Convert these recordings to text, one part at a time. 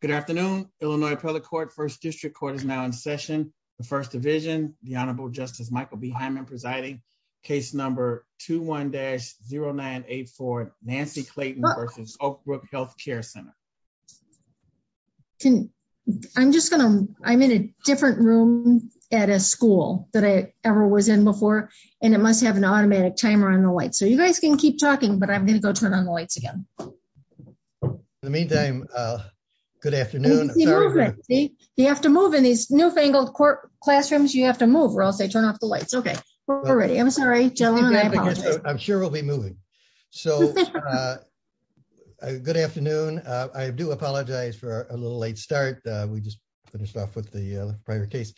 Good afternoon, Illinois Appellate Court, First District Court is now in session. The First Division, the Honorable Justice Michael B. Hyman presiding, case number 21-0984, Nancy Clayton v. Oakbrook Healthcare Center. I'm just gonna, I'm in a different room at a school that I ever was in before, and it must have an automatic timer on the lights, so you guys can keep talking, but I'm gonna go turn on the lights again. In the meantime, good afternoon. You have to move in these newfangled court classrooms, you have to move or else they turn off the lights. Okay, we're ready. I'm sorry, gentlemen, I apologize. I'm sure we'll be moving. So good afternoon. I do apologize for a little late start. We just finished off with the prior case.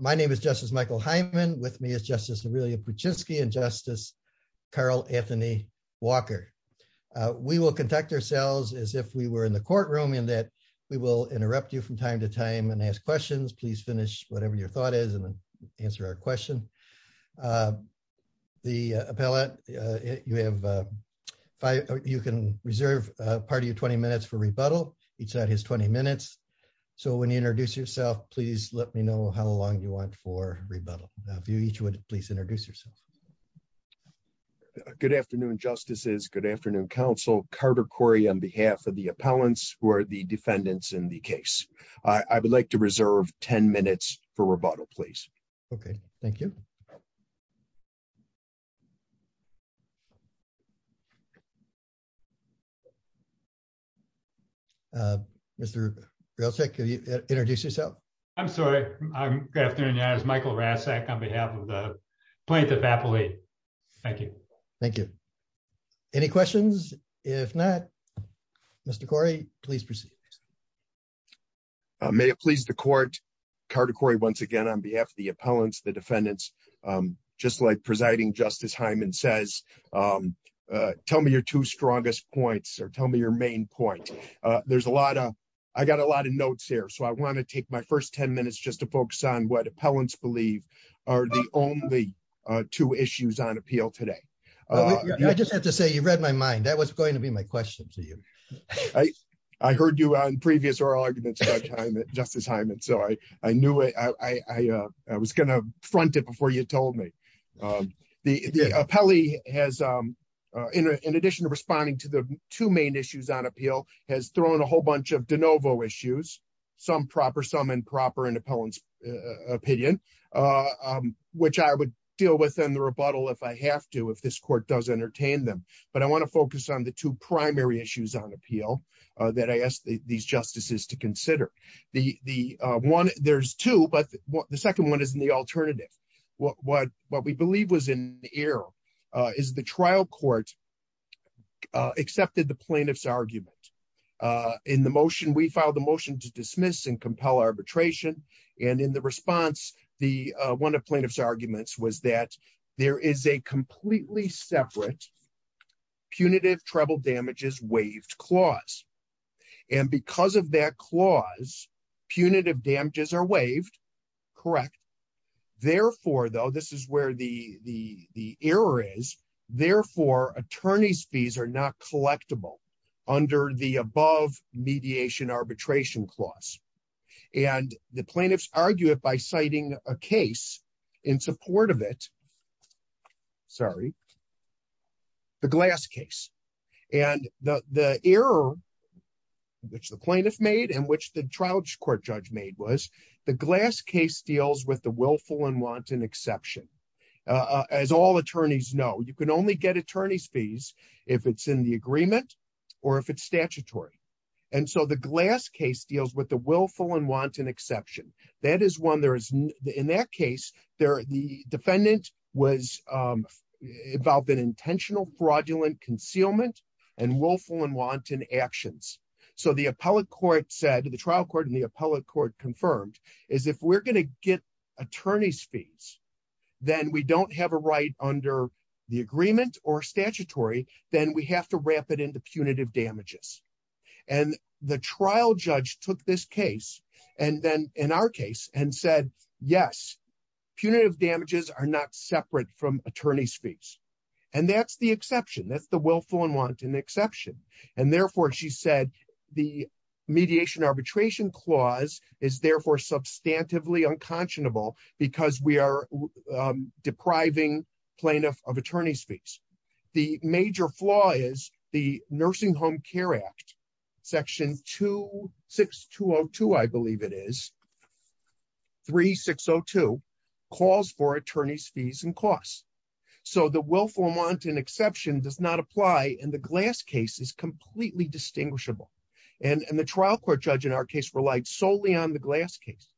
My name is Justice Michael Hyman, with me Justice Aurelia Puczynski, and Justice Carl Anthony Walker. We will conduct ourselves as if we were in the courtroom, in that we will interrupt you from time to time and ask questions. Please finish whatever your thought is and answer our question. The appellate, you have five, you can reserve part of your 20 minutes for rebuttal. Each side has 20 minutes. So when you introduce yourself, please let me know how long you want for rebuttal. If you each would please introduce yourself. Good afternoon, justices. Good afternoon, counsel. Carter Corey on behalf of the appellants who are the defendants in the case. I would like to reserve 10 minutes for rebuttal, please. Okay, real quick, introduce yourself. I'm sorry. Good afternoon. As Michael Rasek on behalf of the plaintiff appellate. Thank you. Thank you. Any questions? If not, Mr. Corey, please proceed. May it please the court. Carter Corey, once again, on behalf of the appellants, the defendants, just like presiding Justice Hyman says, tell me your two strongest points or tell me your main point. There's a lot of I got a lot of notes here. So I want to take my first 10 minutes just to focus on what appellants believe are the only two issues on appeal today. I just have to say you read my mind. That was going to be my question to you. I heard you on previous oral arguments, Justice Hyman. So I knew it. I was gonna front it before you told me. The appellee has in addition to responding to the two main issues on appeal has thrown a whole bunch of de novo issues, some proper some improper in appellant's opinion, which I would deal with in the rebuttal if I have to if this court does entertain them. But I want to focus on the two primary issues on appeal that I asked these justices to consider the one there's two but the second one is in the accepted the plaintiff's argument. In the motion, we filed a motion to dismiss and compel arbitration. And in the response, the one of plaintiff's arguments was that there is a completely separate punitive treble damages waived clause. And because of that clause, punitive damages are waived. Correct. Therefore, though, this is where the the the error is, therefore, attorneys fees are not collectible under the above mediation arbitration clause. And the plaintiffs argue it by citing a case in support of it. Sorry, the glass case, and the error which the plaintiff made and which the trial court judge made was the glass case deals with the exception. As all attorneys know, you can only get attorney's fees if it's in the agreement, or if it's statutory. And so the glass case deals with the willful and wanton exception. That is one there is in that case, there the defendant was involved in intentional fraudulent concealment, and willful and wanton actions. So the appellate court said to the trial court the appellate court confirmed is if we're going to get attorney's fees, then we don't have a right under the agreement or statutory, then we have to wrap it into punitive damages. And the trial judge took this case. And then in our case, and said, Yes, punitive damages are not separate from attorney's fees. And that's the exception. That's the willful and wanton exception. And therefore, she said, the mediation arbitration clause is therefore substantively unconscionable, because we are depriving plaintiff of attorney's fees. The major flaw is the Nursing Home Care Act, section 26202, I believe it is 3602 calls for attorney's fees and costs. So the willful and wanton exception does not apply. And the glass case is completely distinguishable. And the trial court judge in our case relied solely on the glass case.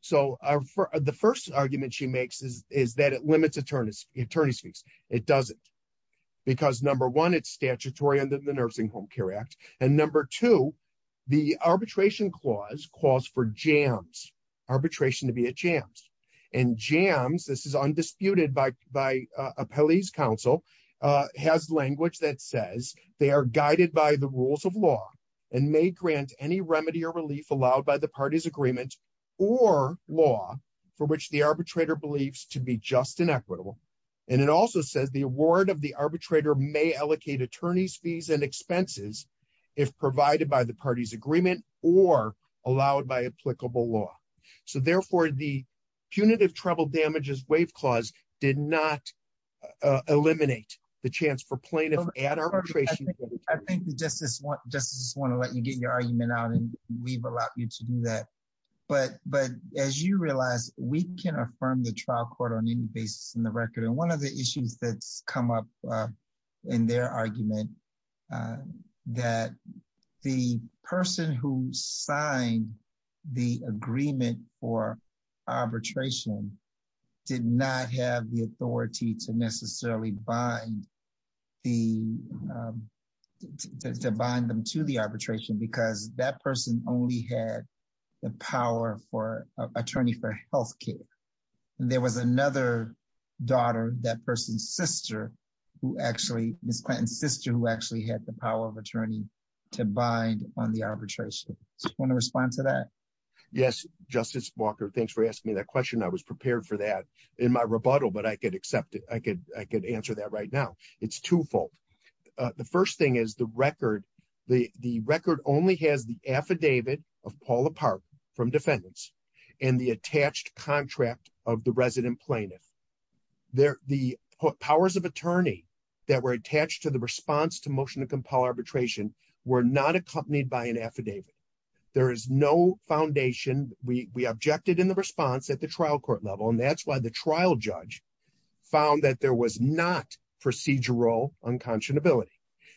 So the first argument she makes is that it limits attorney's fees. It doesn't. Because number one, it's statutory under the Nursing Home Care Act. And number two, the arbitration clause calls for jams, arbitration to be a chance. And jams, this is undisputed by by a police counsel has language that says they are guided by the rules of law, and may grant any remedy or relief allowed by the party's agreement, or law for which the arbitrator believes to be just and equitable. And it also says the award of the arbitrator may allocate attorney's fees and expenses, if provided by the party's agreement, or allowed by applicable law. So therefore, the punitive trouble damages waive clause did not eliminate the chance for plaintiff at arbitration. I think the justice want justice want to let you get your argument out. And we've allowed you to do that. But But as you realize, we can affirm the trial court on any basis in the record. And one of the issues that's come up in their argument, that the person who signed the agreement for arbitration did not have the authority to necessarily bind the bind them to the arbitration, because that person only had the power for attorney for health care. And there was another daughter, that person's sister, who actually Miss Clinton's sister who actually had the power of attorney to bind on the arbitration. I want to respond to that. Yes, Justice Walker, thanks for asking me that question. I was prepared for that in my rebuttal, but I could accept it. I could I could answer that right now. It's twofold. The first thing is the record, the record only has the affidavit of Paula Park from defendants, and the attached contract of the resident plaintiff. There the powers of attorney that were attached to the response to motion to compel arbitration were not accompanied by an affidavit. There is no foundation, we objected in the response at the trial court level. And that's the trial judge found that there was not procedural unconscionability,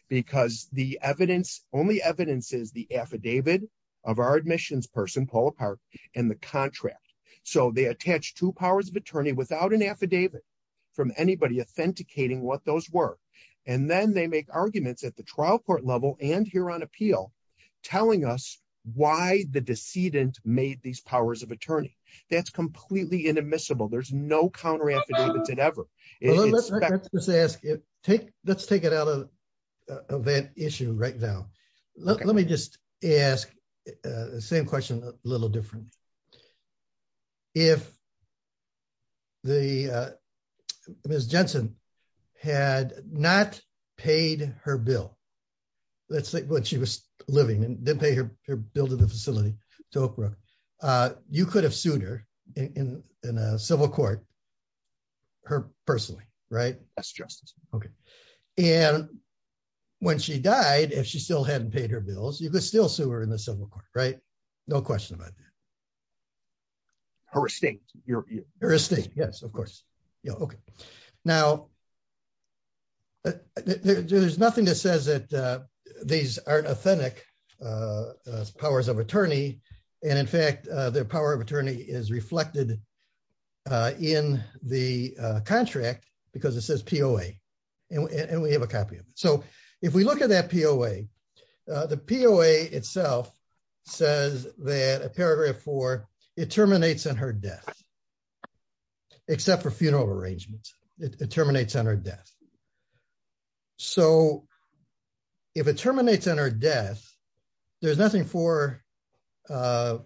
because the evidence only evidences the affidavit of our admissions person, Paula Park, and the contract. So they attach two powers of attorney without an affidavit from anybody authenticating what those were. And then they make arguments at the trial court level and here on appeal, telling us why the no counter affidavits and ever ask it, take, let's take it out of event issue right now. Let me just ask the same question a little different. If the Ms. Jensen had not paid her bill, let's say what she was living and didn't pay her bill to the facility to Oak Brook, you have sued her in a civil court, her personally, right? That's justice. Okay. And when she died, if she still hadn't paid her bills, you could still sue her in the civil court, right? No question about that. Her estate. Yes, of course. Yeah. Okay. Now, there's nothing that says that these aren't authentic powers of attorney. And in fact, their power of attorney is reflected in the contract because it says POA and we have a copy of it. So if we look at that POA, the POA itself says that a paragraph four, it terminates on her death, except for funeral arrangements. It terminates on her death. So if it terminates on her death, there's nothing for her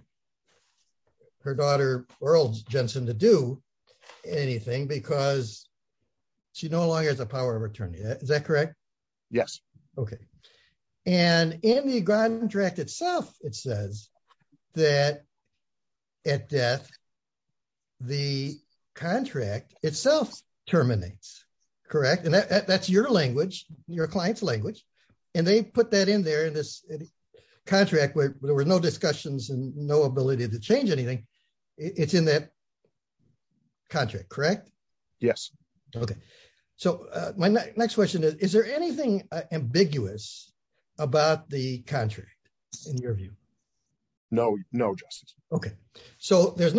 daughter, Earl Jensen to do anything because she no longer has a power of attorney. Is that correct? Yes. Okay. And in the contract itself, it says that at death, the contract itself terminates, correct? And that's your language, your client's language. And they put that in there in this contract where there were no discussions and no ability to change anything. It's in that contract, correct? Yes. Okay. So my next question is, is there anything ambiguous about the contract in your view? No, no justice. Okay. So there's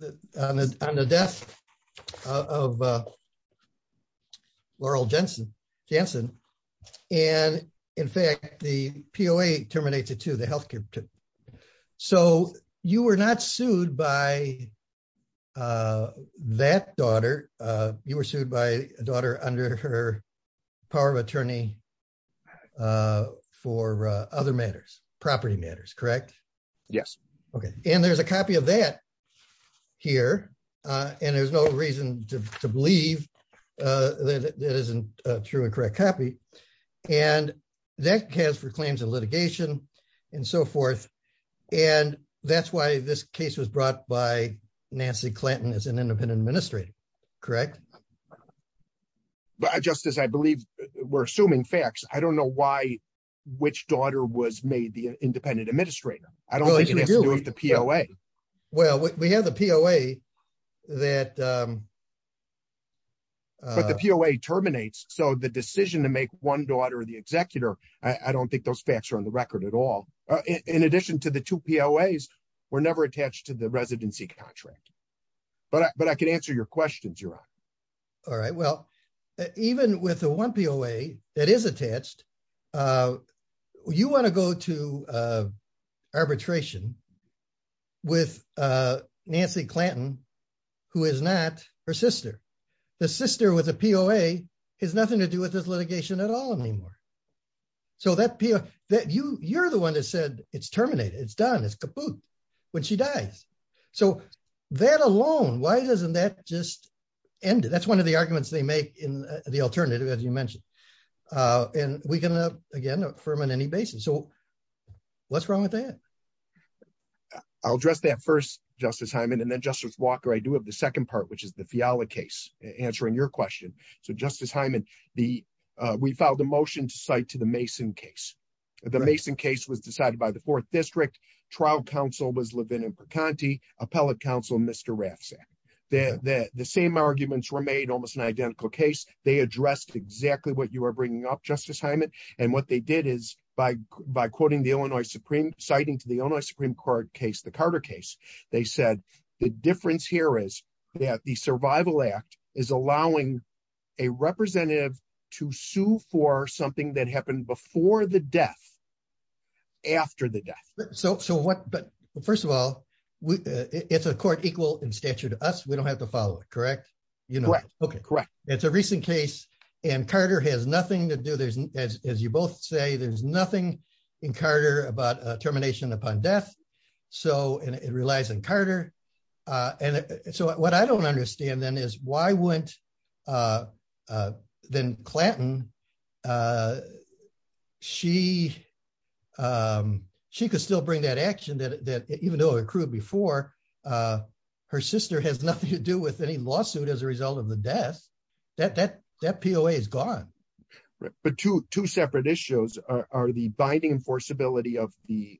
the death of Laurel Jensen. And in fact, the POA terminates it to the healthcare. So you were not sued by that daughter. You were sued by a daughter under her power of attorney for other matters, property matters, correct? Yes. Okay. And there's a copy of that here. And there's no reason to believe that isn't a true and correct copy. And that has for claims of litigation and so forth. And that's why this case was brought by Nancy I don't know why, which daughter was made the independent administrator. I don't think it has to do with the POA. Well, we have the POA that But the POA terminates. So the decision to make one daughter, the executor, I don't think those facts are on the record at all. In addition to the two POAs, were never attached to the residency contract. But I can answer your questions, Your Honor. All right. Well, even with the one POA that is attached, you want to go to arbitration with Nancy Clanton, who is not her sister. The sister with a POA has nothing to do with this litigation at all anymore. So you're the one that said it's terminated. It's done. It's kaput when she dies. So that alone, why doesn't that just end it? That's one of the arguments they make in the alternative, as you mentioned. And we can, again, affirm on any basis. So what's wrong with that? I'll address that first, Justice Hyman. And then Justice Walker, I do have the second part, which is the Fiala case, answering your question. So Justice Hyman, we filed a motion to cite to the Mason case. The Mason case was decided by the Fourth District. Trial counsel was that the same arguments were made almost an identical case. They addressed exactly what you are bringing up, Justice Hyman. And what they did is by quoting the Illinois Supreme, citing to the Illinois Supreme Court case, the Carter case, they said, the difference here is that the Survival Act is allowing a representative to sue for something that happened before the death after the death. First of all, it's a court equal in stature to us. We don't have to follow it, correct? Correct. It's a recent case. And Carter has nothing to do, as you both say, there's nothing in Carter about termination upon death. So it relies on Carter. And so what I don't understand then is why wouldn't then Clanton, she could still bring that action that even though it accrued before, her sister has nothing to do with any lawsuit as a result of the death, that POA is gone. But two separate issues are the binding enforceability of the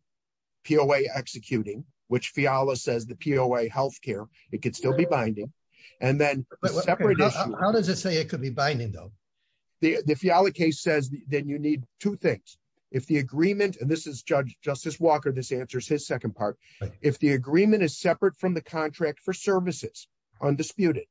POA executing, which Fiala says the POA health care, it could still be binding. And then how does it say it could be binding, though? The Fiala case says that you need two things. If the agreement and this is Judge Justice Walker, this answers his second part. If the agreement is separate from the contract for services, undisputed,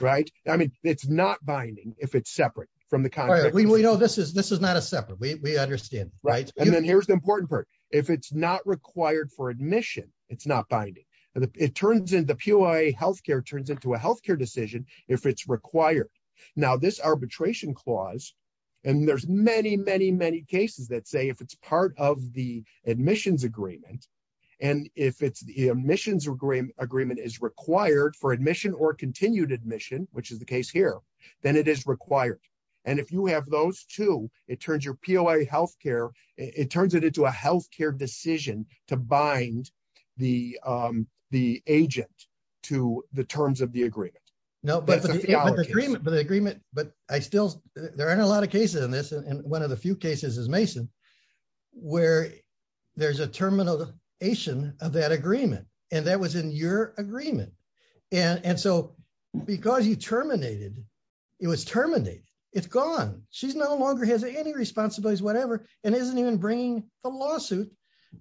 right? I mean, it's not binding if it's separate from the contract. We know this is this is not a separate we understand, right. And then here's the important if it's not required for admission, it's not binding. And it turns in the POA health care turns into a health care decision if it's required. Now, this arbitration clause, and there's many, many, many cases that say if it's part of the admissions agreement, and if it's the admissions agreement is required for admission or continued admission, which is the case here, then it is required. And if you have those two, it turns your POA health care, it turns it into a health care decision to bind the the agent to the terms of the agreement. No, but the agreement, but the agreement, but I still there aren't a lot of cases in this. And one of the few cases is Mason, where there's a termination of that agreement. And that was in your agreement. And so because you terminated, it was terminated, it's gone, she's no longer has any responsibilities, whatever, and isn't even bringing the lawsuit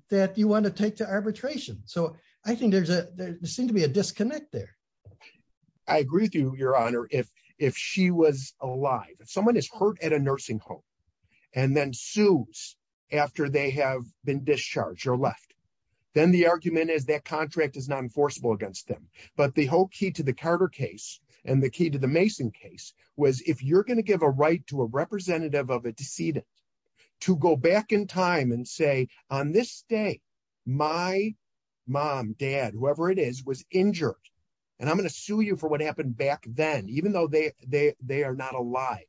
that you want to take to arbitration. So I think there's a there seemed to be a disconnect there. I agree with you, Your Honor, if if she was alive, if someone is hurt at a nursing home, and then sues after they have been discharged or left, then the argument is that contract is not enforceable against them. But the whole key to the Carter case, and the key to the Mason case was if you're going to give a representative of a decedent to go back in time and say, on this day, my mom, dad, whoever it is was injured. And I'm going to sue you for what happened back then, even though they they they are not alive,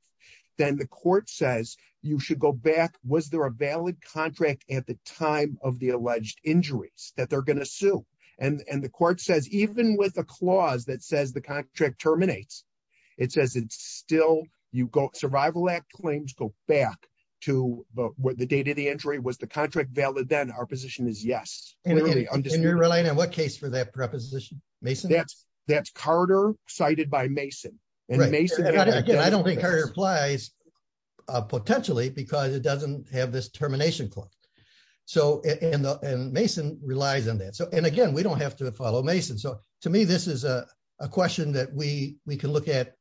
then the court says, you should go back, was there a valid contract at the time of the alleged injuries that they're going to sue? And the court says, even with a clause that says contract terminates, it says it's still you go Survival Act claims go back to what the date of the injury was the contract valid, then our position is yes. And you're relying on what case for that preposition, Mason, that's that's Carter cited by Mason. And Mason, I don't think Carter applies, potentially, because it doesn't have this termination clause. So in the Mason relies on that. So and again, we don't have to follow Mason. So to me, this is a question that we we can look at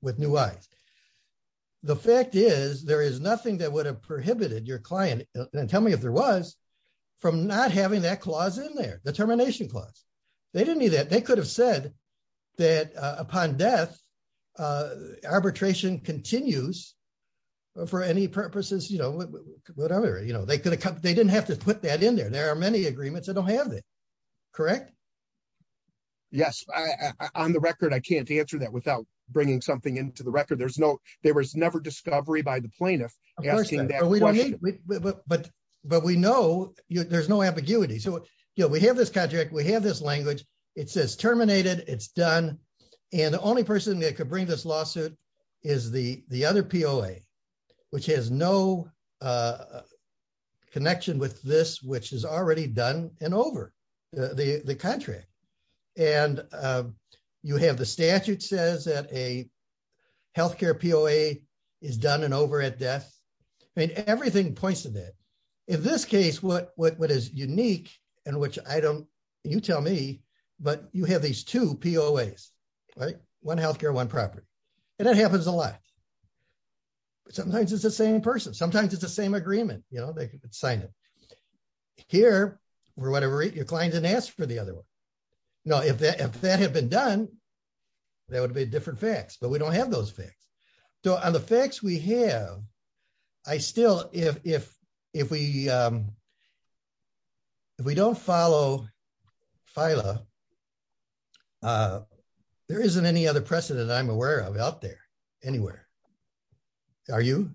with new eyes. The fact is, there is nothing that would have prohibited your client and tell me if there was from not having that clause in their determination clause, they didn't need that they could have said that upon death, arbitration continues. For any purposes, you know, whatever, you know, they could have, they didn't have to put that in there. There are many agreements that don't have it. Correct? Yes, on the record, I can't answer that without bringing something into the record. There's no there was never discovery by the plaintiff. But, but we know, there's no ambiguity. So yeah, we have this contract, we have this language, it says terminated, it's done. And the only person that could bring this lawsuit is the the other POA, which has no a connection with this, which is already done and over the contract. And you have the statute says that a healthcare POA is done and over at death. I mean, everything points to that. In this case, what what is unique, and which I don't, you tell me, but you have these two POAs, right? One healthcare, one property, and it happens a lot. Sometimes it's the same person, sometimes it's the same agreement, you know, they could sign it here, or whatever, your client didn't ask for the other one. Now, if that if that had been done, there would be different facts, but we don't have those facts. So on the facts we have, I still if if, if we if we don't follow FILA, there isn't any other precedent I'm aware of out there. Anywhere. Are you?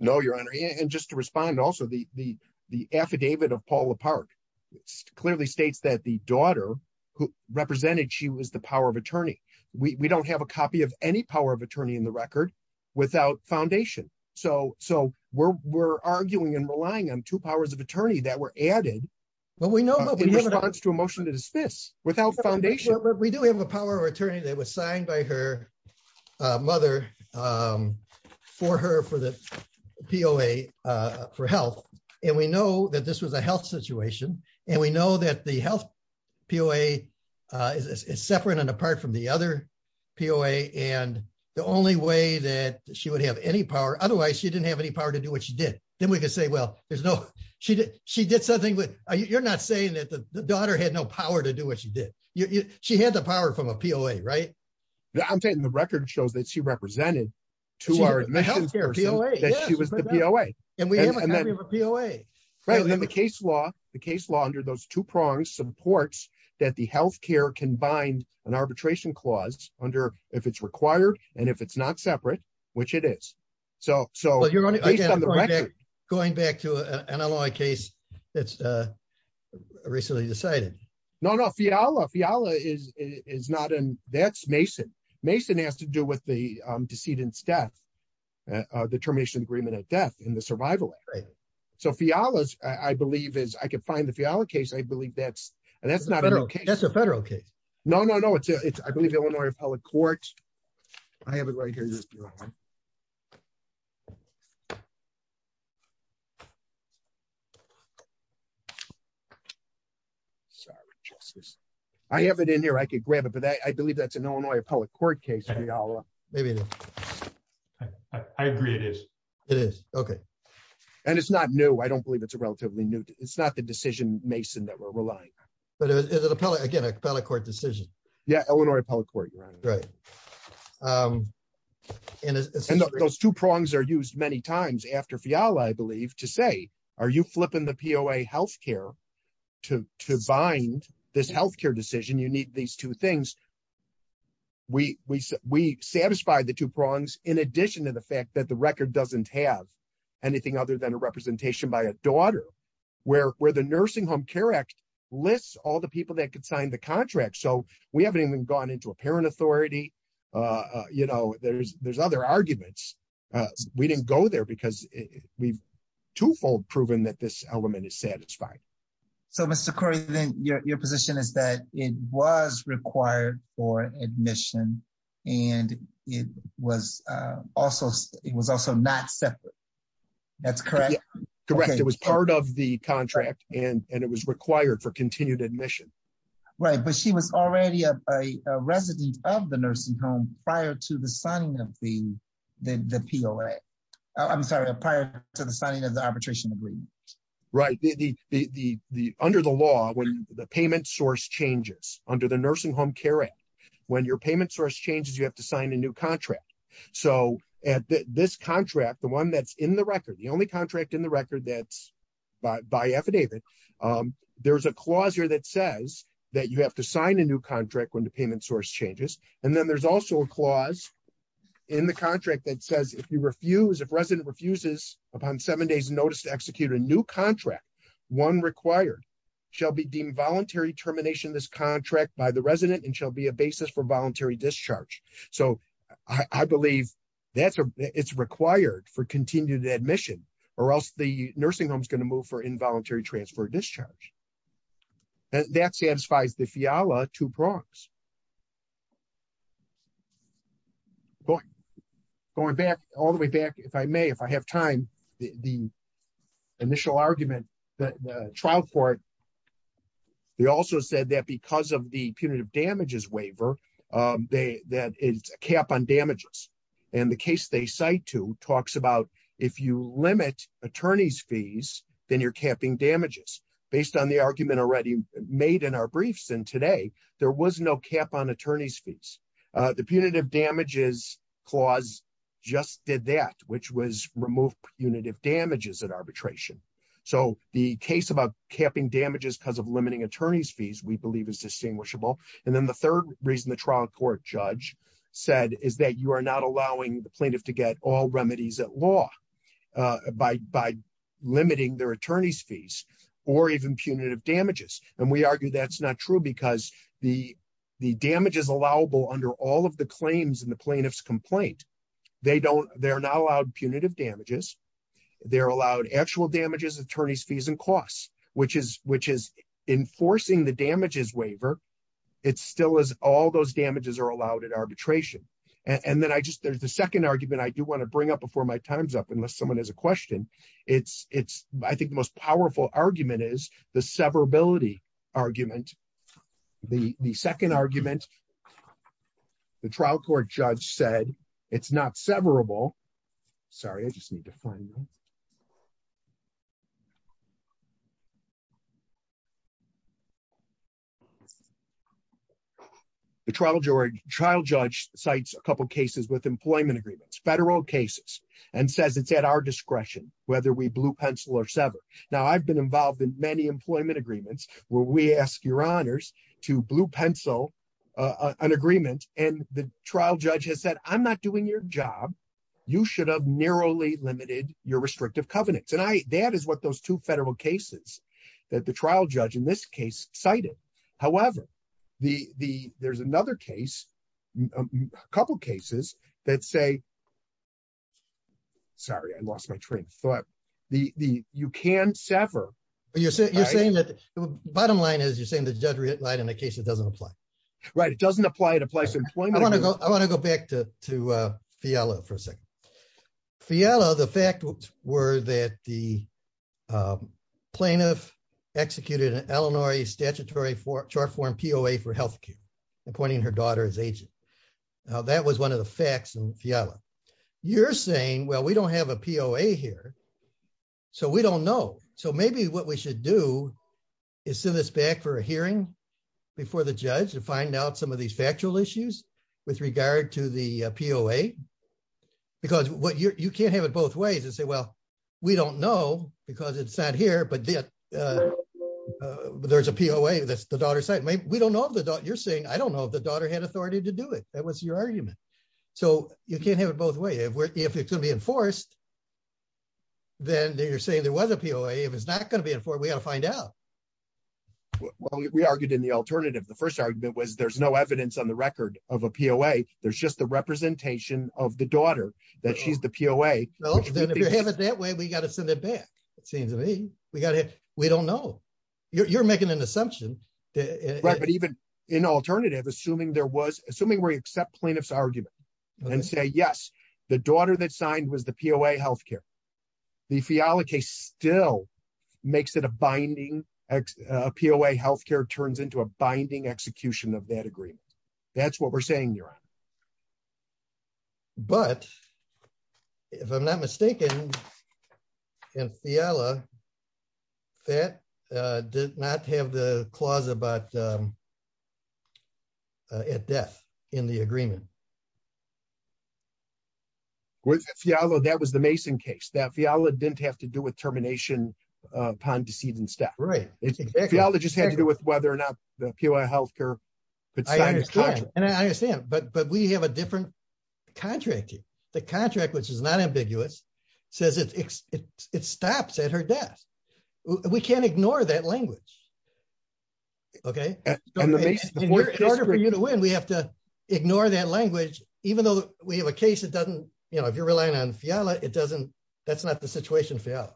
No, Your Honor. And just to respond, also, the the the affidavit of Paula Park, clearly states that the daughter who represented she was the power of attorney, we don't have a copy of any power of attorney in the record, without foundation. So so we're arguing and relying on two powers of attorney that were added. But we know that we have a response to a motion to dismiss without foundation. We do have a power of attorney that was signed by her mother for her for the POA for health. And we know that this was a health situation. And we know that the health POA is separate and apart from the other POA. And the only way that she would have any power, otherwise, she didn't have any power to do what she did, then we can say, well, there's no, she did, she did something with you're not saying that the daughter had no power to do what she did. You she had the power from a POA, right? I'm saying the record shows that she represented to our health care POA. And we have a POA. Right? And then the case law, the case law under those two prongs supports that the health care can bind an arbitration clause under if it's required, and if it's not separate, which it is. So so you're going to get on the record, going back to an ally case that's recently decided? No, no, Fiala Fiala is is not an that's Mason. Mason has to do with the decedent's death, determination agreement of death in the survival. So Fiala, I believe is I can find the Fiala case, I believe that's, and that's not a federal case. No, no, no, it's it's I believe Illinois appellate court. I have it right here. Sorry, justice. I have it in here. I could grab it. But I believe that's an Illinois appellate court case. Maybe. I agree. It is. It is. Okay. And it's not new. I don't believe it's a relatively new. It's not the decision Mason that but it's an appellate, again, appellate court decision. Yeah, Illinois appellate court. Right. And those two prongs are used many times after Fiala, I believe to say, are you flipping the POA health care to bind this health care decision, you need these two things. We, we, we satisfied the two prongs, in addition to the fact that the record doesn't have anything other than a representation by a daughter, where where the Nursing Home Care Act lists all the people that could sign the contract. So we haven't even gone into a parent authority. You know, there's there's other arguments. We didn't go there because we've twofold proven that this element is satisfied. So Mr. Curry, then your position is that it was required for admission, and it was also it was also not separate. That's correct. Correct. It was part of the contract, and it was required for continued admission. Right, but she was already a resident of the nursing home prior to the signing of the the POA. I'm sorry, prior to the signing of the arbitration agreement. Right, the the the under the law when the payment source changes under Nursing Home Care Act, when your payment source changes, you have to sign a new contract. So at this contract, the one that's in the record, the only contract in the record that's by affidavit, there's a clause here that says that you have to sign a new contract when the payment source changes. And then there's also a clause in the contract that says if you refuse, if resident refuses upon seven days notice to execute a new contract, one required shall be the resident and shall be a basis for voluntary discharge. So I believe that's it's required for continued admission, or else the nursing home is going to move for involuntary transfer discharge. That satisfies the FIALA two prongs. Going back all the way back, if I may, if I have time, the initial argument that the trial court, they also said that because of the punitive damages waiver, they that is a cap on damages. And the case they cite to talks about if you limit attorneys fees, then you're capping damages based on the argument already made in our briefs. And today, there was no cap on attorneys fees. The punitive damages clause just did that, which was removed punitive damages at arbitration. So the case about capping damages because of limiting attorneys fees, we believe is distinguishable. And then the third reason the trial court judge said is that you are not allowing the plaintiff to get all remedies at law by limiting their attorneys fees, or even punitive damages. And we argue that's not true because the damage is allowable under all of the claims in the plaintiff's complaint. They don't, they're not allowed punitive damages. They're allowed actual attorneys fees and costs, which is enforcing the damages waiver. It's still as all those damages are allowed at arbitration. And then I just, there's the second argument I do want to bring up before my time's up, unless someone has a question. It's, I think the most powerful argument is the severability argument. The second argument, the trial court judge said, it's not severable. Sorry, I just need to find the trial George trial judge sites, a couple of cases with employment agreements, federal cases, and says it's at our discretion, whether we blue pencil or sever. Now I've been involved in many employment agreements where we ask your honors to blue pencil an agreement. And the trial judge has said, I'm not doing your job. You should have narrowly limited your restrictive covenants. And I, that is what those two federal cases that the trial judge in this case cited. However, the, the, there's another case, a couple of cases that say, sorry, I lost my train of thought. The, the, you can sever. You're saying that the bottom line is you're saying the judge read it right. In the case, it doesn't apply. Right. It doesn't apply. It applies to employment. I want to go back to, to Fiala for a second. Fiala, the fact were that the plaintiff executed an Illinois statutory for chart form POA for healthcare, appointing her daughter's agent. Now that was one of the facts Fiala. You're saying, well, we don't have a POA here. So we don't know. So maybe what we should do is send this back for a hearing before the judge to find out some of these factual issues with regard to the POA, because what you're, you can't have it both ways and say, well, we don't know because it's not here, but there's a POA that's the daughter's side. We don't know if the daughter you're saying, I don't know if the daughter had authority to do it. That was your argument. So you can't have it both ways. If it's going to be enforced, then you're saying there was a POA. If it's not going to be enforced, we got to find out. Well, we argued in the alternative. The first argument was there's no evidence on the record of a POA. There's just the representation of the daughter that she's the POA. Well, then if you have it that way, we got to send it back. It seems to me we got to, we don't know. You're making an assumption. Right. But even in alternative, assuming there was, assuming we accept plaintiff's argument and say, yes, the daughter that signed was the POA healthcare, the Fiala case still makes it a binding POA healthcare turns into a binding execution of that agreement. That's what we're saying, Neera. But if I'm not mistaken, in Fiala, that did not have the clause about at death in the agreement. With Fiala, that was the Mason case. That Fiala didn't have to do with termination upon deceit and stuff. Fiala just had to do with whether or not the POA healthcare could sign a contract. I understand. But we have a different contract here. The contract, which is not We can't ignore that language. Okay. In order for you to win, we have to ignore that language, even though we have a case that doesn't, you know, if you're relying on Fiala, it doesn't, that's not the situation Fiala.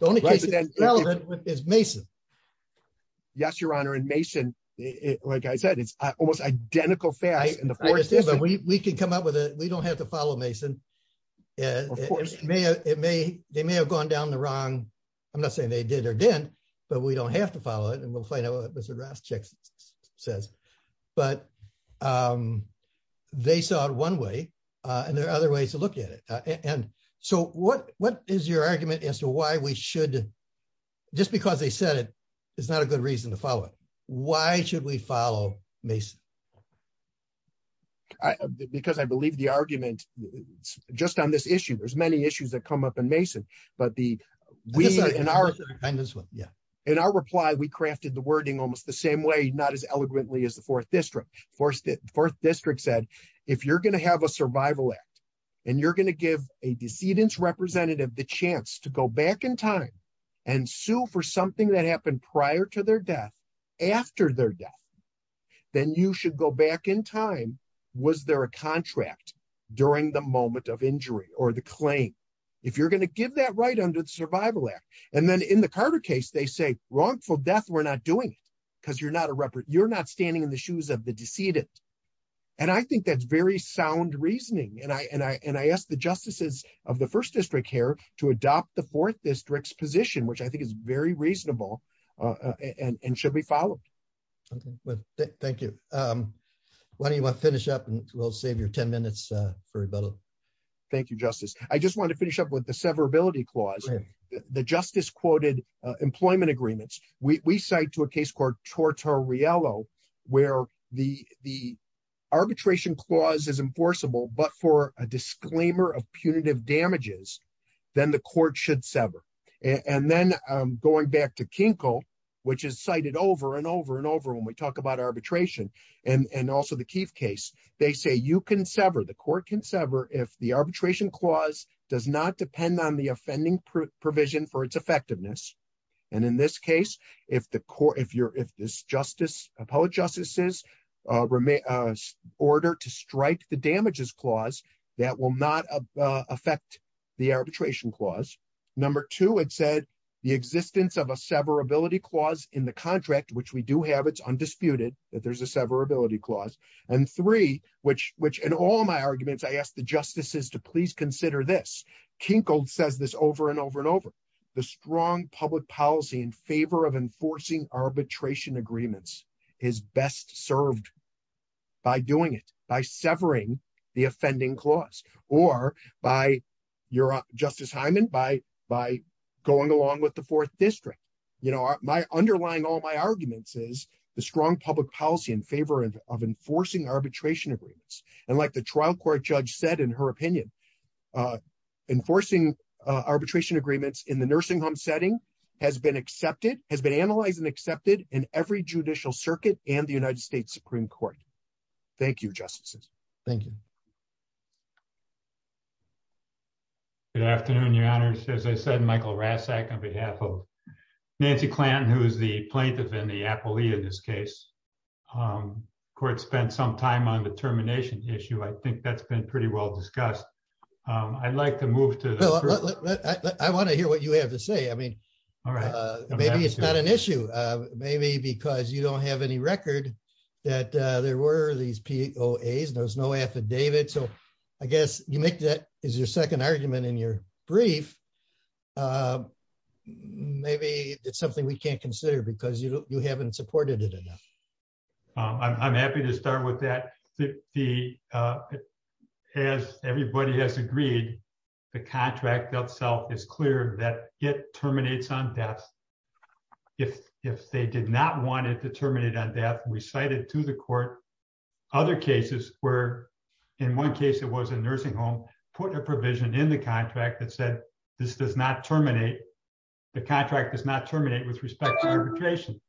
The only case that's relevant is Mason. Yes, Your Honor. And Mason, like I said, it's almost identical facts. We can come up with it. We don't have to follow Mason. Of course. They may have gone down the wrong, I'm not saying they did or didn't, but we don't have to follow it. And we'll find out what Mr. Rastchik says. But they saw it one way, and there are other ways to look at it. And so what is your argument as to why we should, just because they said it, it's not a good reason to follow it. Why should we follow Mason? Because I believe the argument, just on this issue, there's many issues that come up in Mason. But we, in our reply, we crafted the wording almost the same way, not as eloquently as the Fourth District. Fourth District said, if you're going to have a survival act, and you're going to give a decedent's representative the chance to go back in time and sue for something that happened prior to their death, after their death, then you should go back in time. Was there a contract during the moment of injury or the claim? If you're going to give that right under the Survival Act. And then in the Carter case, they say, wrongful death, we're not doing it because you're not standing in the shoes of the decedent. And I think that's very sound reasoning. And I asked the justices of the First District here to adopt the Fourth District's very reasonable and should be followed. Thank you. Why don't you want to finish up and we'll save your 10 minutes for rebuttal. Thank you, Justice. I just wanted to finish up with the severability clause. The justice quoted employment agreements, we cite to a case called Tortorello, where the arbitration clause is enforceable, but for a disclaimer of punitive damages, then the court should sever. And then going back to Kinkle, which is cited over and over and over when we talk about arbitration, and also the Keith case, they say you can sever, the court can sever if the arbitration clause does not depend on the offending provision for its effectiveness. And in this case, if the court, if you're, if this justice, appellate justices, remain, order to strike the damages clause, that will not affect the arbitration clause. Number two, it said the existence of a severability clause in the contract, which we do have, it's undisputed that there's a severability clause. And three, which, which in all my arguments, I asked the justices to please consider this. Kinkle says this over and over and over. The strong public policy in favor of enforcing arbitration agreements is best served by doing it, by severing the offending clause, or by your, Justice Hyman, by, by going along with the fourth district. You know, my, underlying all my arguments is the strong public policy in favor of enforcing arbitration agreements. And like the trial court judge said, in her opinion, enforcing arbitration agreements in the has been analyzed and accepted in every judicial circuit and the United States Supreme Court. Thank you, justices. Thank you. Good afternoon, your honors. As I said, Michael Rasak on behalf of Nancy Klan, who is the plaintiff in the appellee in this case, court spent some time on the termination issue. I think that's been pretty well discussed. I'd like to move to, I want to hear what you have to say. I mean, all right. Maybe it's not an issue. Maybe because you don't have any record that there were these POAs, there was no affidavit. So I guess you make that is your second argument in your brief. Maybe it's something we can't consider because you haven't supported it enough. I'm happy to start with that. The, as everybody has agreed, the contract itself is clear that it terminates on death. If they did not want it to terminate on death, we cited to the court other cases where in one case, it was a nursing home, put a provision in the contract that said, this does not terminate. The contract does not terminate with respect to arbitration.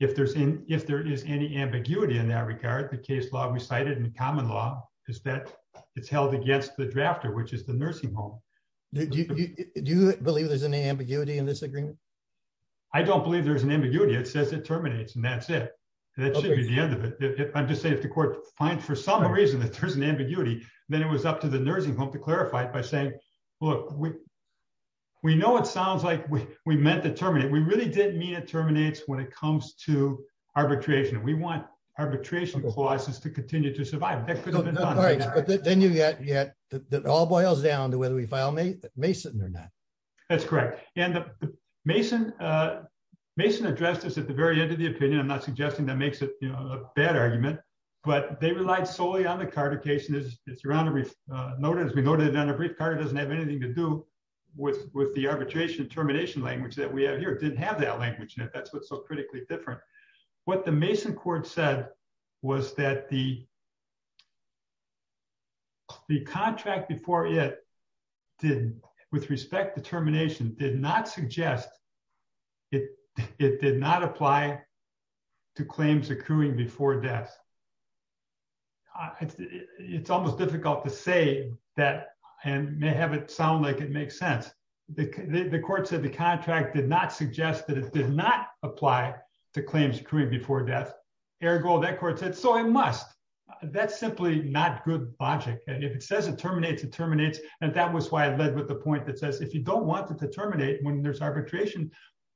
If there's any, if there is any ambiguity in that regard, the case law we cited in common law is that it's held against the drafter, which is the nursing home. Do you believe there's any ambiguity in this agreement? I don't believe there's an ambiguity. It says it terminates and that's it. That should be the end of it. I'm just saying if the court finds for some reason that there's an ambiguity, then it was up to the nursing home to clarify it by saying, look, we know it sounds like we meant to terminate. We really didn't mean it terminates when it comes to arbitration. We want arbitration clauses to continue to survive. All right. But then you get, it all boils down to whether we file Mason or not. That's correct. Mason addressed this at the very end of the opinion. I'm not suggesting that makes it a bad argument, but they relied solely on the Carter case. As we noted on a brief, Carter doesn't have anything to do with the arbitration termination language that we have here. It didn't have that language in it. That's what's so critically different. What the Mason court said was that the contract before it did with respect to termination did not suggest it did not apply to claims accruing before death. It's almost difficult to say that and may have it sound like it makes sense. The court said the contract did not suggest that it did not apply to claims accruing before death. Ergo, that court said, so I must, that's simply not good logic. And if it says it terminates, it terminates. And that was why I led with the point that says, if you don't want it to terminate when there's arbitration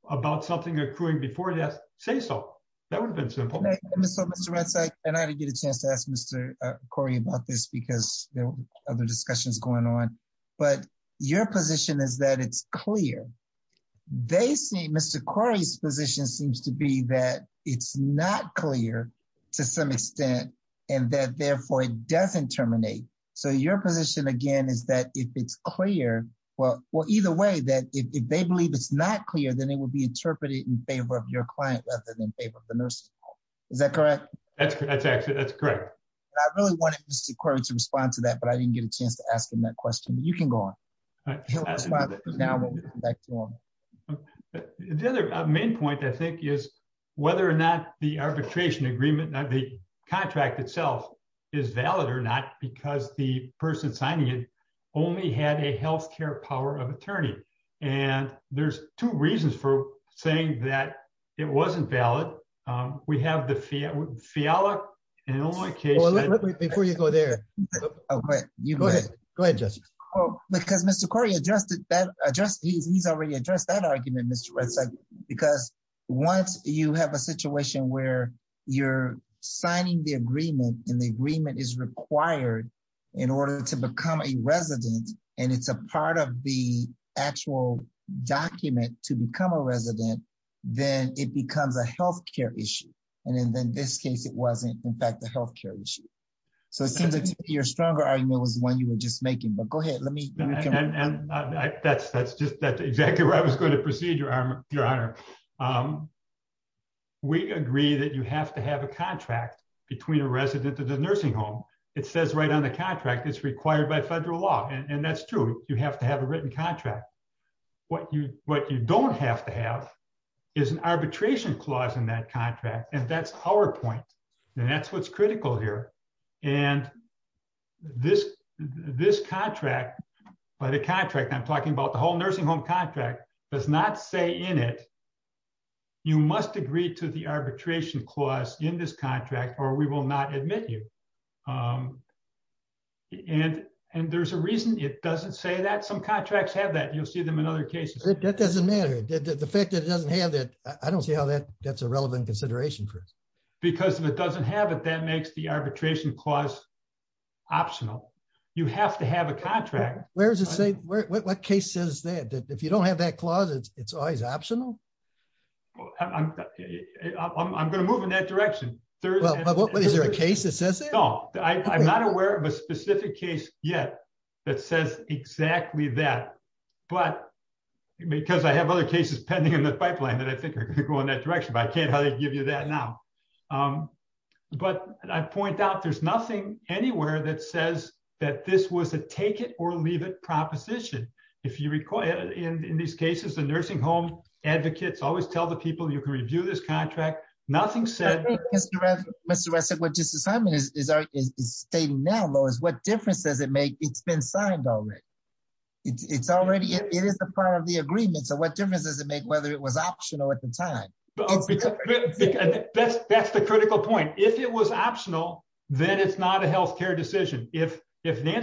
about something accruing before death, say so. That would have been simple. So Mr. Rentsch, I had to get a chance to ask Mr. Corey about this because there were other discussions going on, but your position is that it's clear. They see Mr. Corey's position seems to be that it's not clear to some extent and that therefore it doesn't terminate. So your position again, is that if it's clear, well, either way that if they believe it's not clear, then it will be interpreted in favor of your client rather than in favor of the nursing home. Is that correct? That's correct. I really wanted Mr. Corey to respond to that, but I didn't get a chance to ask him that question, but you can go on. The other main point I think is whether or not the arbitration agreement, the contract itself is valid or not, because the person signing it only had a healthcare power of attorney. And there's two reasons for saying that it wasn't valid. We have the FIALA and only case- Go ahead. Go ahead, Justice. Because Mr. Corey, he's already addressed that argument, Mr. Rentsch, because once you have a situation where you're signing the agreement and the agreement is required in order to become a resident, and it's a part of the actual document to become a resident, then it becomes a healthcare issue. And in this case, it wasn't, in fact, healthcare issue. So it seems like your stronger argument was the one you were just making, but go ahead. Let me- And that's just exactly where I was going to proceed, Your Honor. We agree that you have to have a contract between a resident and the nursing home. It says right on the contract it's required by federal law, and that's true. You have to have a written contract. What you don't have to have is an arbitration clause in that contract, and that's our point, and that's what's critical here. And this contract, by the contract I'm talking about, the whole nursing home contract does not say in it, you must agree to the arbitration clause in this contract or we will not admit you. And there's a reason it doesn't say that. Some contracts have that. You'll see them in other cases. That doesn't matter. The fact that it doesn't have that, I don't see how that's a reason. Because if it doesn't have it, that makes the arbitration clause optional. You have to have a contract. Where does it say, what case says that? If you don't have that clause, it's always optional? I'm going to move in that direction. Is there a case that says that? No. I'm not aware of a specific case yet that says exactly that, but because I have other cases pending in the process now. But I point out, there's nothing anywhere that says that this was a take it or leave it proposition. In these cases, the nursing home advocates always tell the people you can review this contract. Nothing said- Mr. Ressig, what Justice Simon is stating now, though, is what difference does it make? It's been signed already. It is a part of the agreement, so what difference does it make whether it was optional at the time? That's the critical point. If it was optional, then it's not a healthcare decision. If Deborah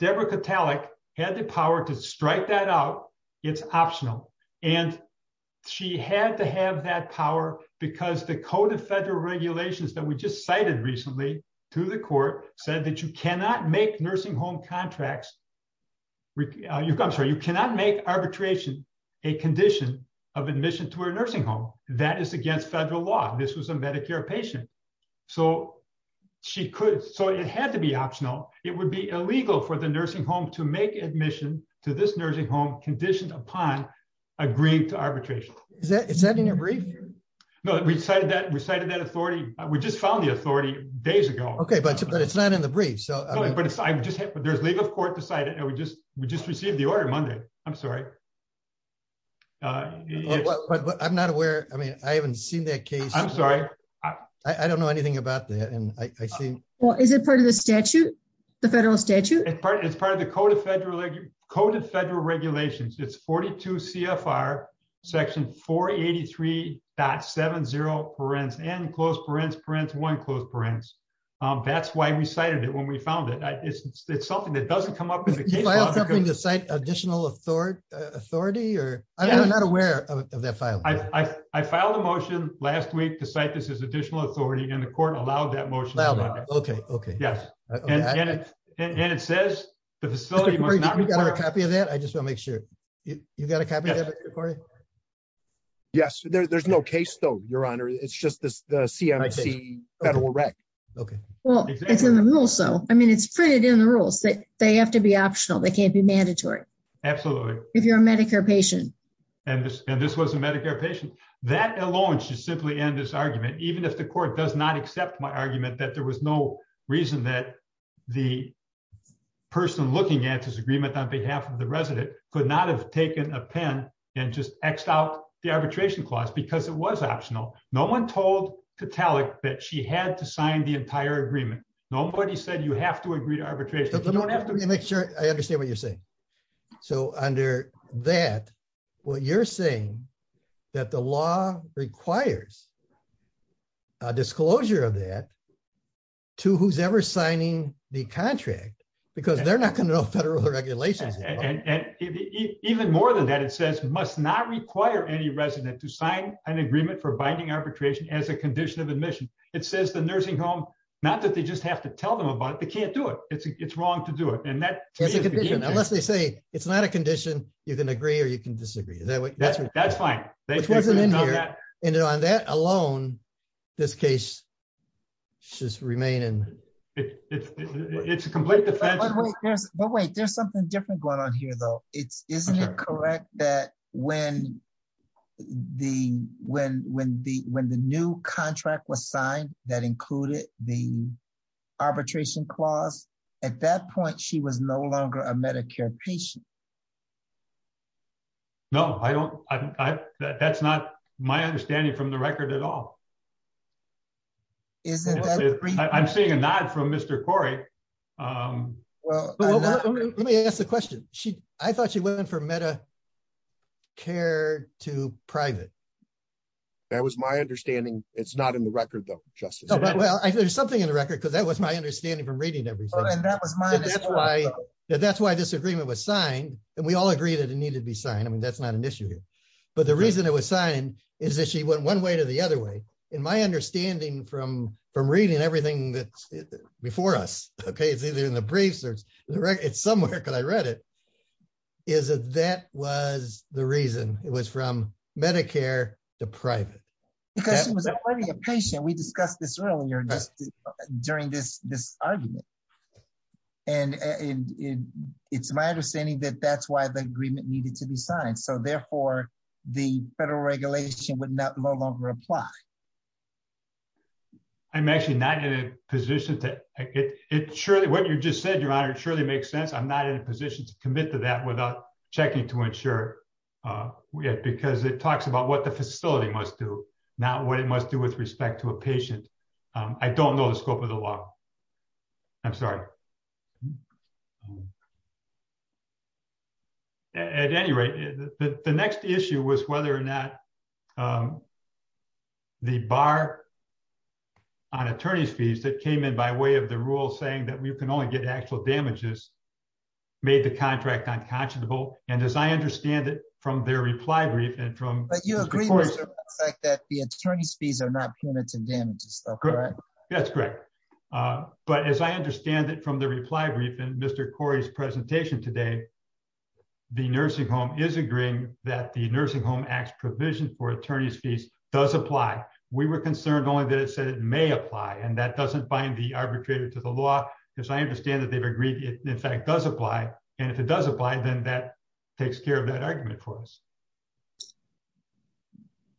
Katalik had the power to strike that out, it's optional. She had to have that power because the code of federal regulations that we just cited recently to the court said that you cannot make arbitration a condition of admission to a nursing home. That is against federal law. This was a Medicare patient, so it had to be optional. It would be illegal for the nursing home to make admission to this nursing home conditioned upon agreeing to arbitration. Is that in your brief? No, we cited that authority. We just found the authority days ago. But it's not in the brief. There's legal court decided. We just received the order Monday. I'm not aware. I haven't seen that case. I'm sorry. I don't know anything about that. Is it part of the federal statute? It's part of the code of federal regulations. It's 42 CFR 483.70. That's why we cited it when we found it. It's something that doesn't come up in the case. Did you file something to cite additional authority? I'm not aware of that filing. I filed a motion last week to cite this as additional authority, and the court allowed that motion to be filed. It says the facility must not report. You got a copy of that? I Yes. There's no case, though, Your Honor. It's just the CMC Federal Rec. Okay. Well, it's in the rules, so I mean, it's printed in the rules that they have to be optional. They can't be mandatory. Absolutely. If you're a Medicare patient. And this was a Medicare patient. That alone should simply end this argument, even if the court does not accept my argument that there was no reason that the person looking at this agreement on behalf of resident could not have taken a pen and just X out the arbitration clause because it was optional. No one told to tell it that she had to sign the entire agreement. Nobody said you have to agree to arbitration. You don't have to make sure I understand what you're saying. So under that, what you're saying that the law requires a disclosure of that to who's ever signing the contract, because they're not going to know federal regulations. Even more than that, it says must not require any resident to sign an agreement for binding arbitration as a condition of admission. It says the nursing home, not that they just have to tell them about it. They can't do it. It's wrong to do it. And that unless they say it's not a condition, you can agree or you can disagree that way. That's fine. And on that alone, this case just remain. And it's a complete defense. But wait, there's something different going on here, though. It's isn't it correct that when the when when the when the new contract was signed that included the arbitration clause at that point, she was no longer a Medicare patient. No, I don't. That's not my understanding from the record at all. Isn't it? I'm seeing a nod from Mr. Corey. Well, let me ask the question. She I thought she went in for Medicare to private. That was my understanding. It's not in the record, though. Justice. Well, there's something in the record, because that was my understanding from reading everything. And that was my that's why that's why this agreement was signed. And we all agree that it needed to be signed. I mean, that's not an issue here. But the reason it was signed is that she went one way to the other way. In my understanding from from reading everything that's before us, OK, it's either in the briefs or it's somewhere because I read it, is that that was the reason it was from Medicare to private because it was a patient. We discussed this earlier during this this argument. And it's my understanding that that's why the agreement needed to be signed. So therefore, the federal regulation would not no longer apply. I'm actually not in a position to get it. Surely what you just said, Your Honor, it surely makes sense. I'm not in a position to commit to that without checking to ensure it because it talks about what the facility must do, not what it must do with respect to a patient. I don't know the scope of the law. I'm sorry. At any rate, the next issue was whether or not the bar on attorney's fees that came in by way of the rule saying that we can only get actual damages made the contract unconscionable. And as I understand it from their reply brief and from. But you agree with the fact that the attorney's fees are not punitive damages, correct? That's correct. But as I understand it from the reply brief and Mr. Corey's presentation today, the nursing home is agreeing that the nursing home acts provision for attorney's fees does apply. We were concerned only that it said it may apply. And that doesn't bind the arbitrator to the law, because I understand that they've agreed. In fact, does apply. And if it does apply, then that takes care of that argument for us.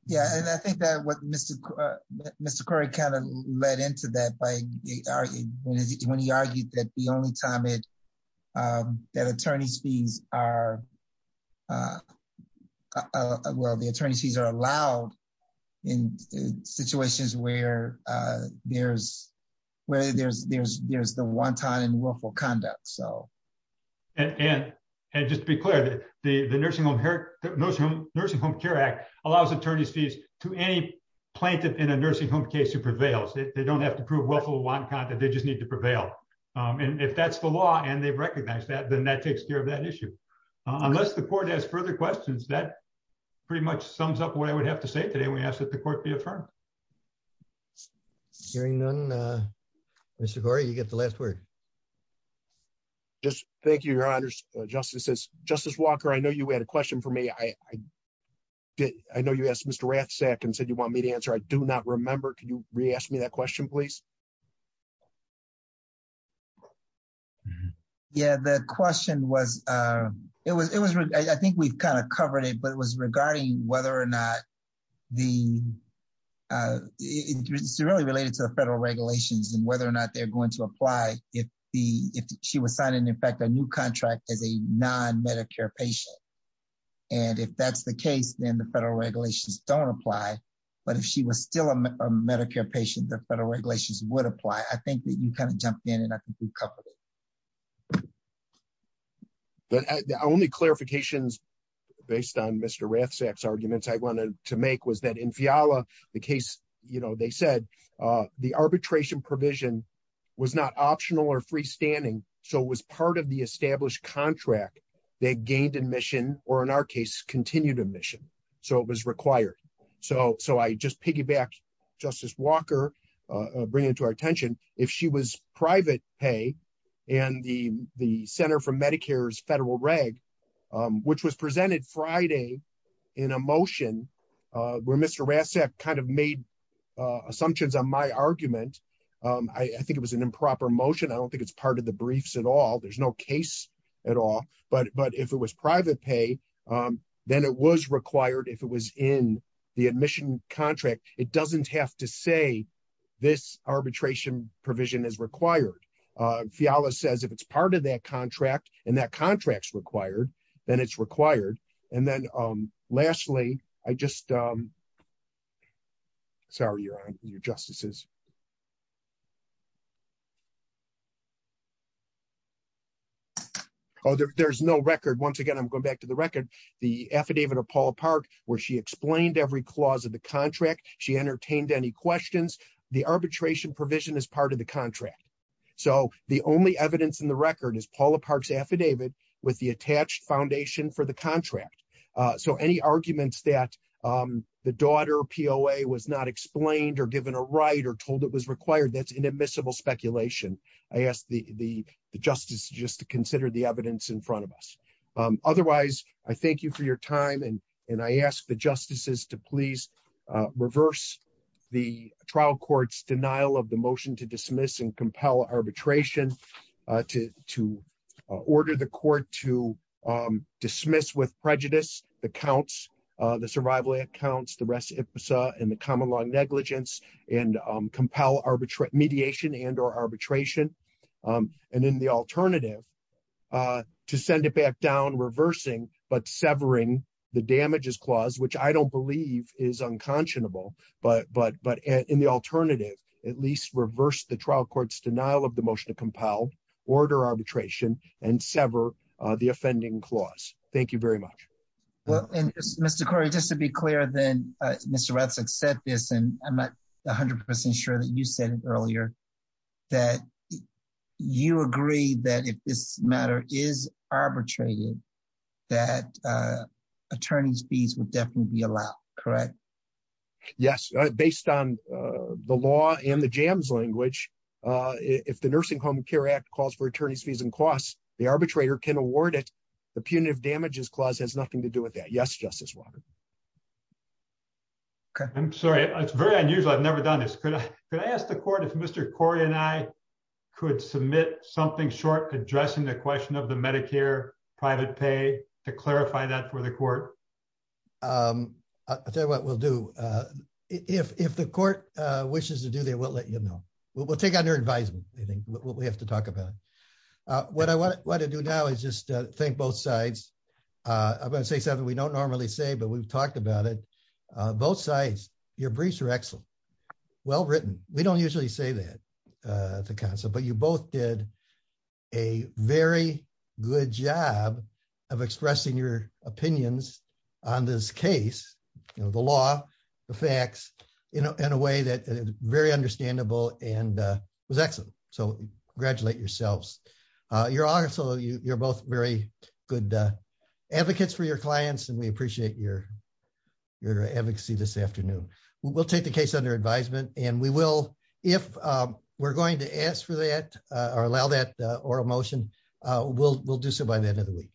Yeah, and I think that what Mr. Mr. Corey kind of led into that by when he argued that the only time it that attorney's fees are. Well, the attorneys fees are allowed in situations where there's where there's there's there's the one time and willful conduct. So. And and just be clear that the nursing home, nursing home care act allows attorney's fees to any plaintiff in a nursing home case who prevails. They don't have to prove what they just need to prevail. And if that's the law and they recognize that, then that takes care of that issue. Unless the court has further questions, that pretty much sums up what I would have to say today. We ask that the court be affirmed. Hearing none, Mr. Corey, you get the last word. Just thank you, Your Honor's justices. Justice Walker, I know you had a question for me. I did. I know you asked Mr. Rathsack and said you want me to answer. I do not remember. Can you re-ask me that question, please? Yeah, the question was it was it was I think we've kind of covered it, but it was regarding whether or not the it's really related to the federal regulations and whether or not they're going to apply if the if she was signing, in fact, a new contract as a non-Medicare patient. And if that's the case, then the federal regulations don't apply. But if she was still a Medicare patient, the federal regulations would apply. I think that you kind of jumped in and I think we've covered it. But the only clarifications based on Mr. Rathsack's arguments I wanted to make was that the case, you know, they said the arbitration provision was not optional or freestanding. So it was part of the established contract. They gained admission or in our case, continued admission. So it was required. So so I just piggyback Justice Walker, bringing to our attention if she was private pay and the the center for Medicare's federal reg, which was presented Friday in a motion where Mr. Rathsack kind of made assumptions on my argument. I think it was an improper motion. I don't think it's part of the briefs at all. There's no case at all. But but if it was private pay, then it was required if it was in the admission contract. It doesn't have to say this arbitration provision is required. Fiala says if it's part of that then it's required. And then lastly, I just sorry, your honor, your justices. Oh, there's no record. Once again, I'm going back to the record, the affidavit of Paula Park, where she explained every clause of the contract. She entertained any questions. The arbitration provision is part of the contract. So the only evidence in the record is Paula Park's foundation for the contract. So any arguments that the daughter POA was not explained or given a right or told it was required, that's inadmissible speculation. I asked the justice just to consider the evidence in front of us. Otherwise, I thank you for your time. And I ask the justices to please reverse the trial court's denial of the motion to dismiss and compel arbitration, to to order the court to dismiss with prejudice, the counts, the survival accounts, the rest ipsa and the common law negligence and compel arbitrate mediation and or arbitration. And then the alternative to send it back down reversing but severing the damages clause, which I don't believe is unconscionable. But but but in the alternative, at least reverse the trial court's denial of the motion to compel order arbitration and sever the offending clause. Thank you very much. Well, and Mr. Corey, just to be clear, then, Mr. Ratzak said this, and I'm not 100% sure that you said it earlier, that you agree that if this matter is arbitrated, that attorneys fees would definitely be allowed, correct? Yes, based on the law and the jams language. If the Nursing Home Care Act calls for attorneys fees and costs, the arbitrator can award it. The punitive damages clause has nothing to do with that. Yes, Justice Walker. Okay, I'm sorry. It's very unusual. I've never done this. Could I could I ask the court if Mr. Corey and I could submit something short addressing the question of the Medicare private pay to clarify that for the court? I'll tell you what we'll do. If the court wishes to do that, we'll let you know. We'll take on your advisement. I think what we have to talk about. What I want to do now is just think both sides. I'm going to say something we don't normally say, but we've talked about it. Both sides. Your briefs are excellent. Well written. We don't good job of expressing your opinions on this case, the law, the facts, in a way that is very understandable and was excellent. So congratulate yourselves. You're also you're both very good advocates for your clients and we appreciate your advocacy this afternoon. We'll take the case under advisement and we will if we're going to ask for that or allow that or a motion, we'll do so by the end of the week.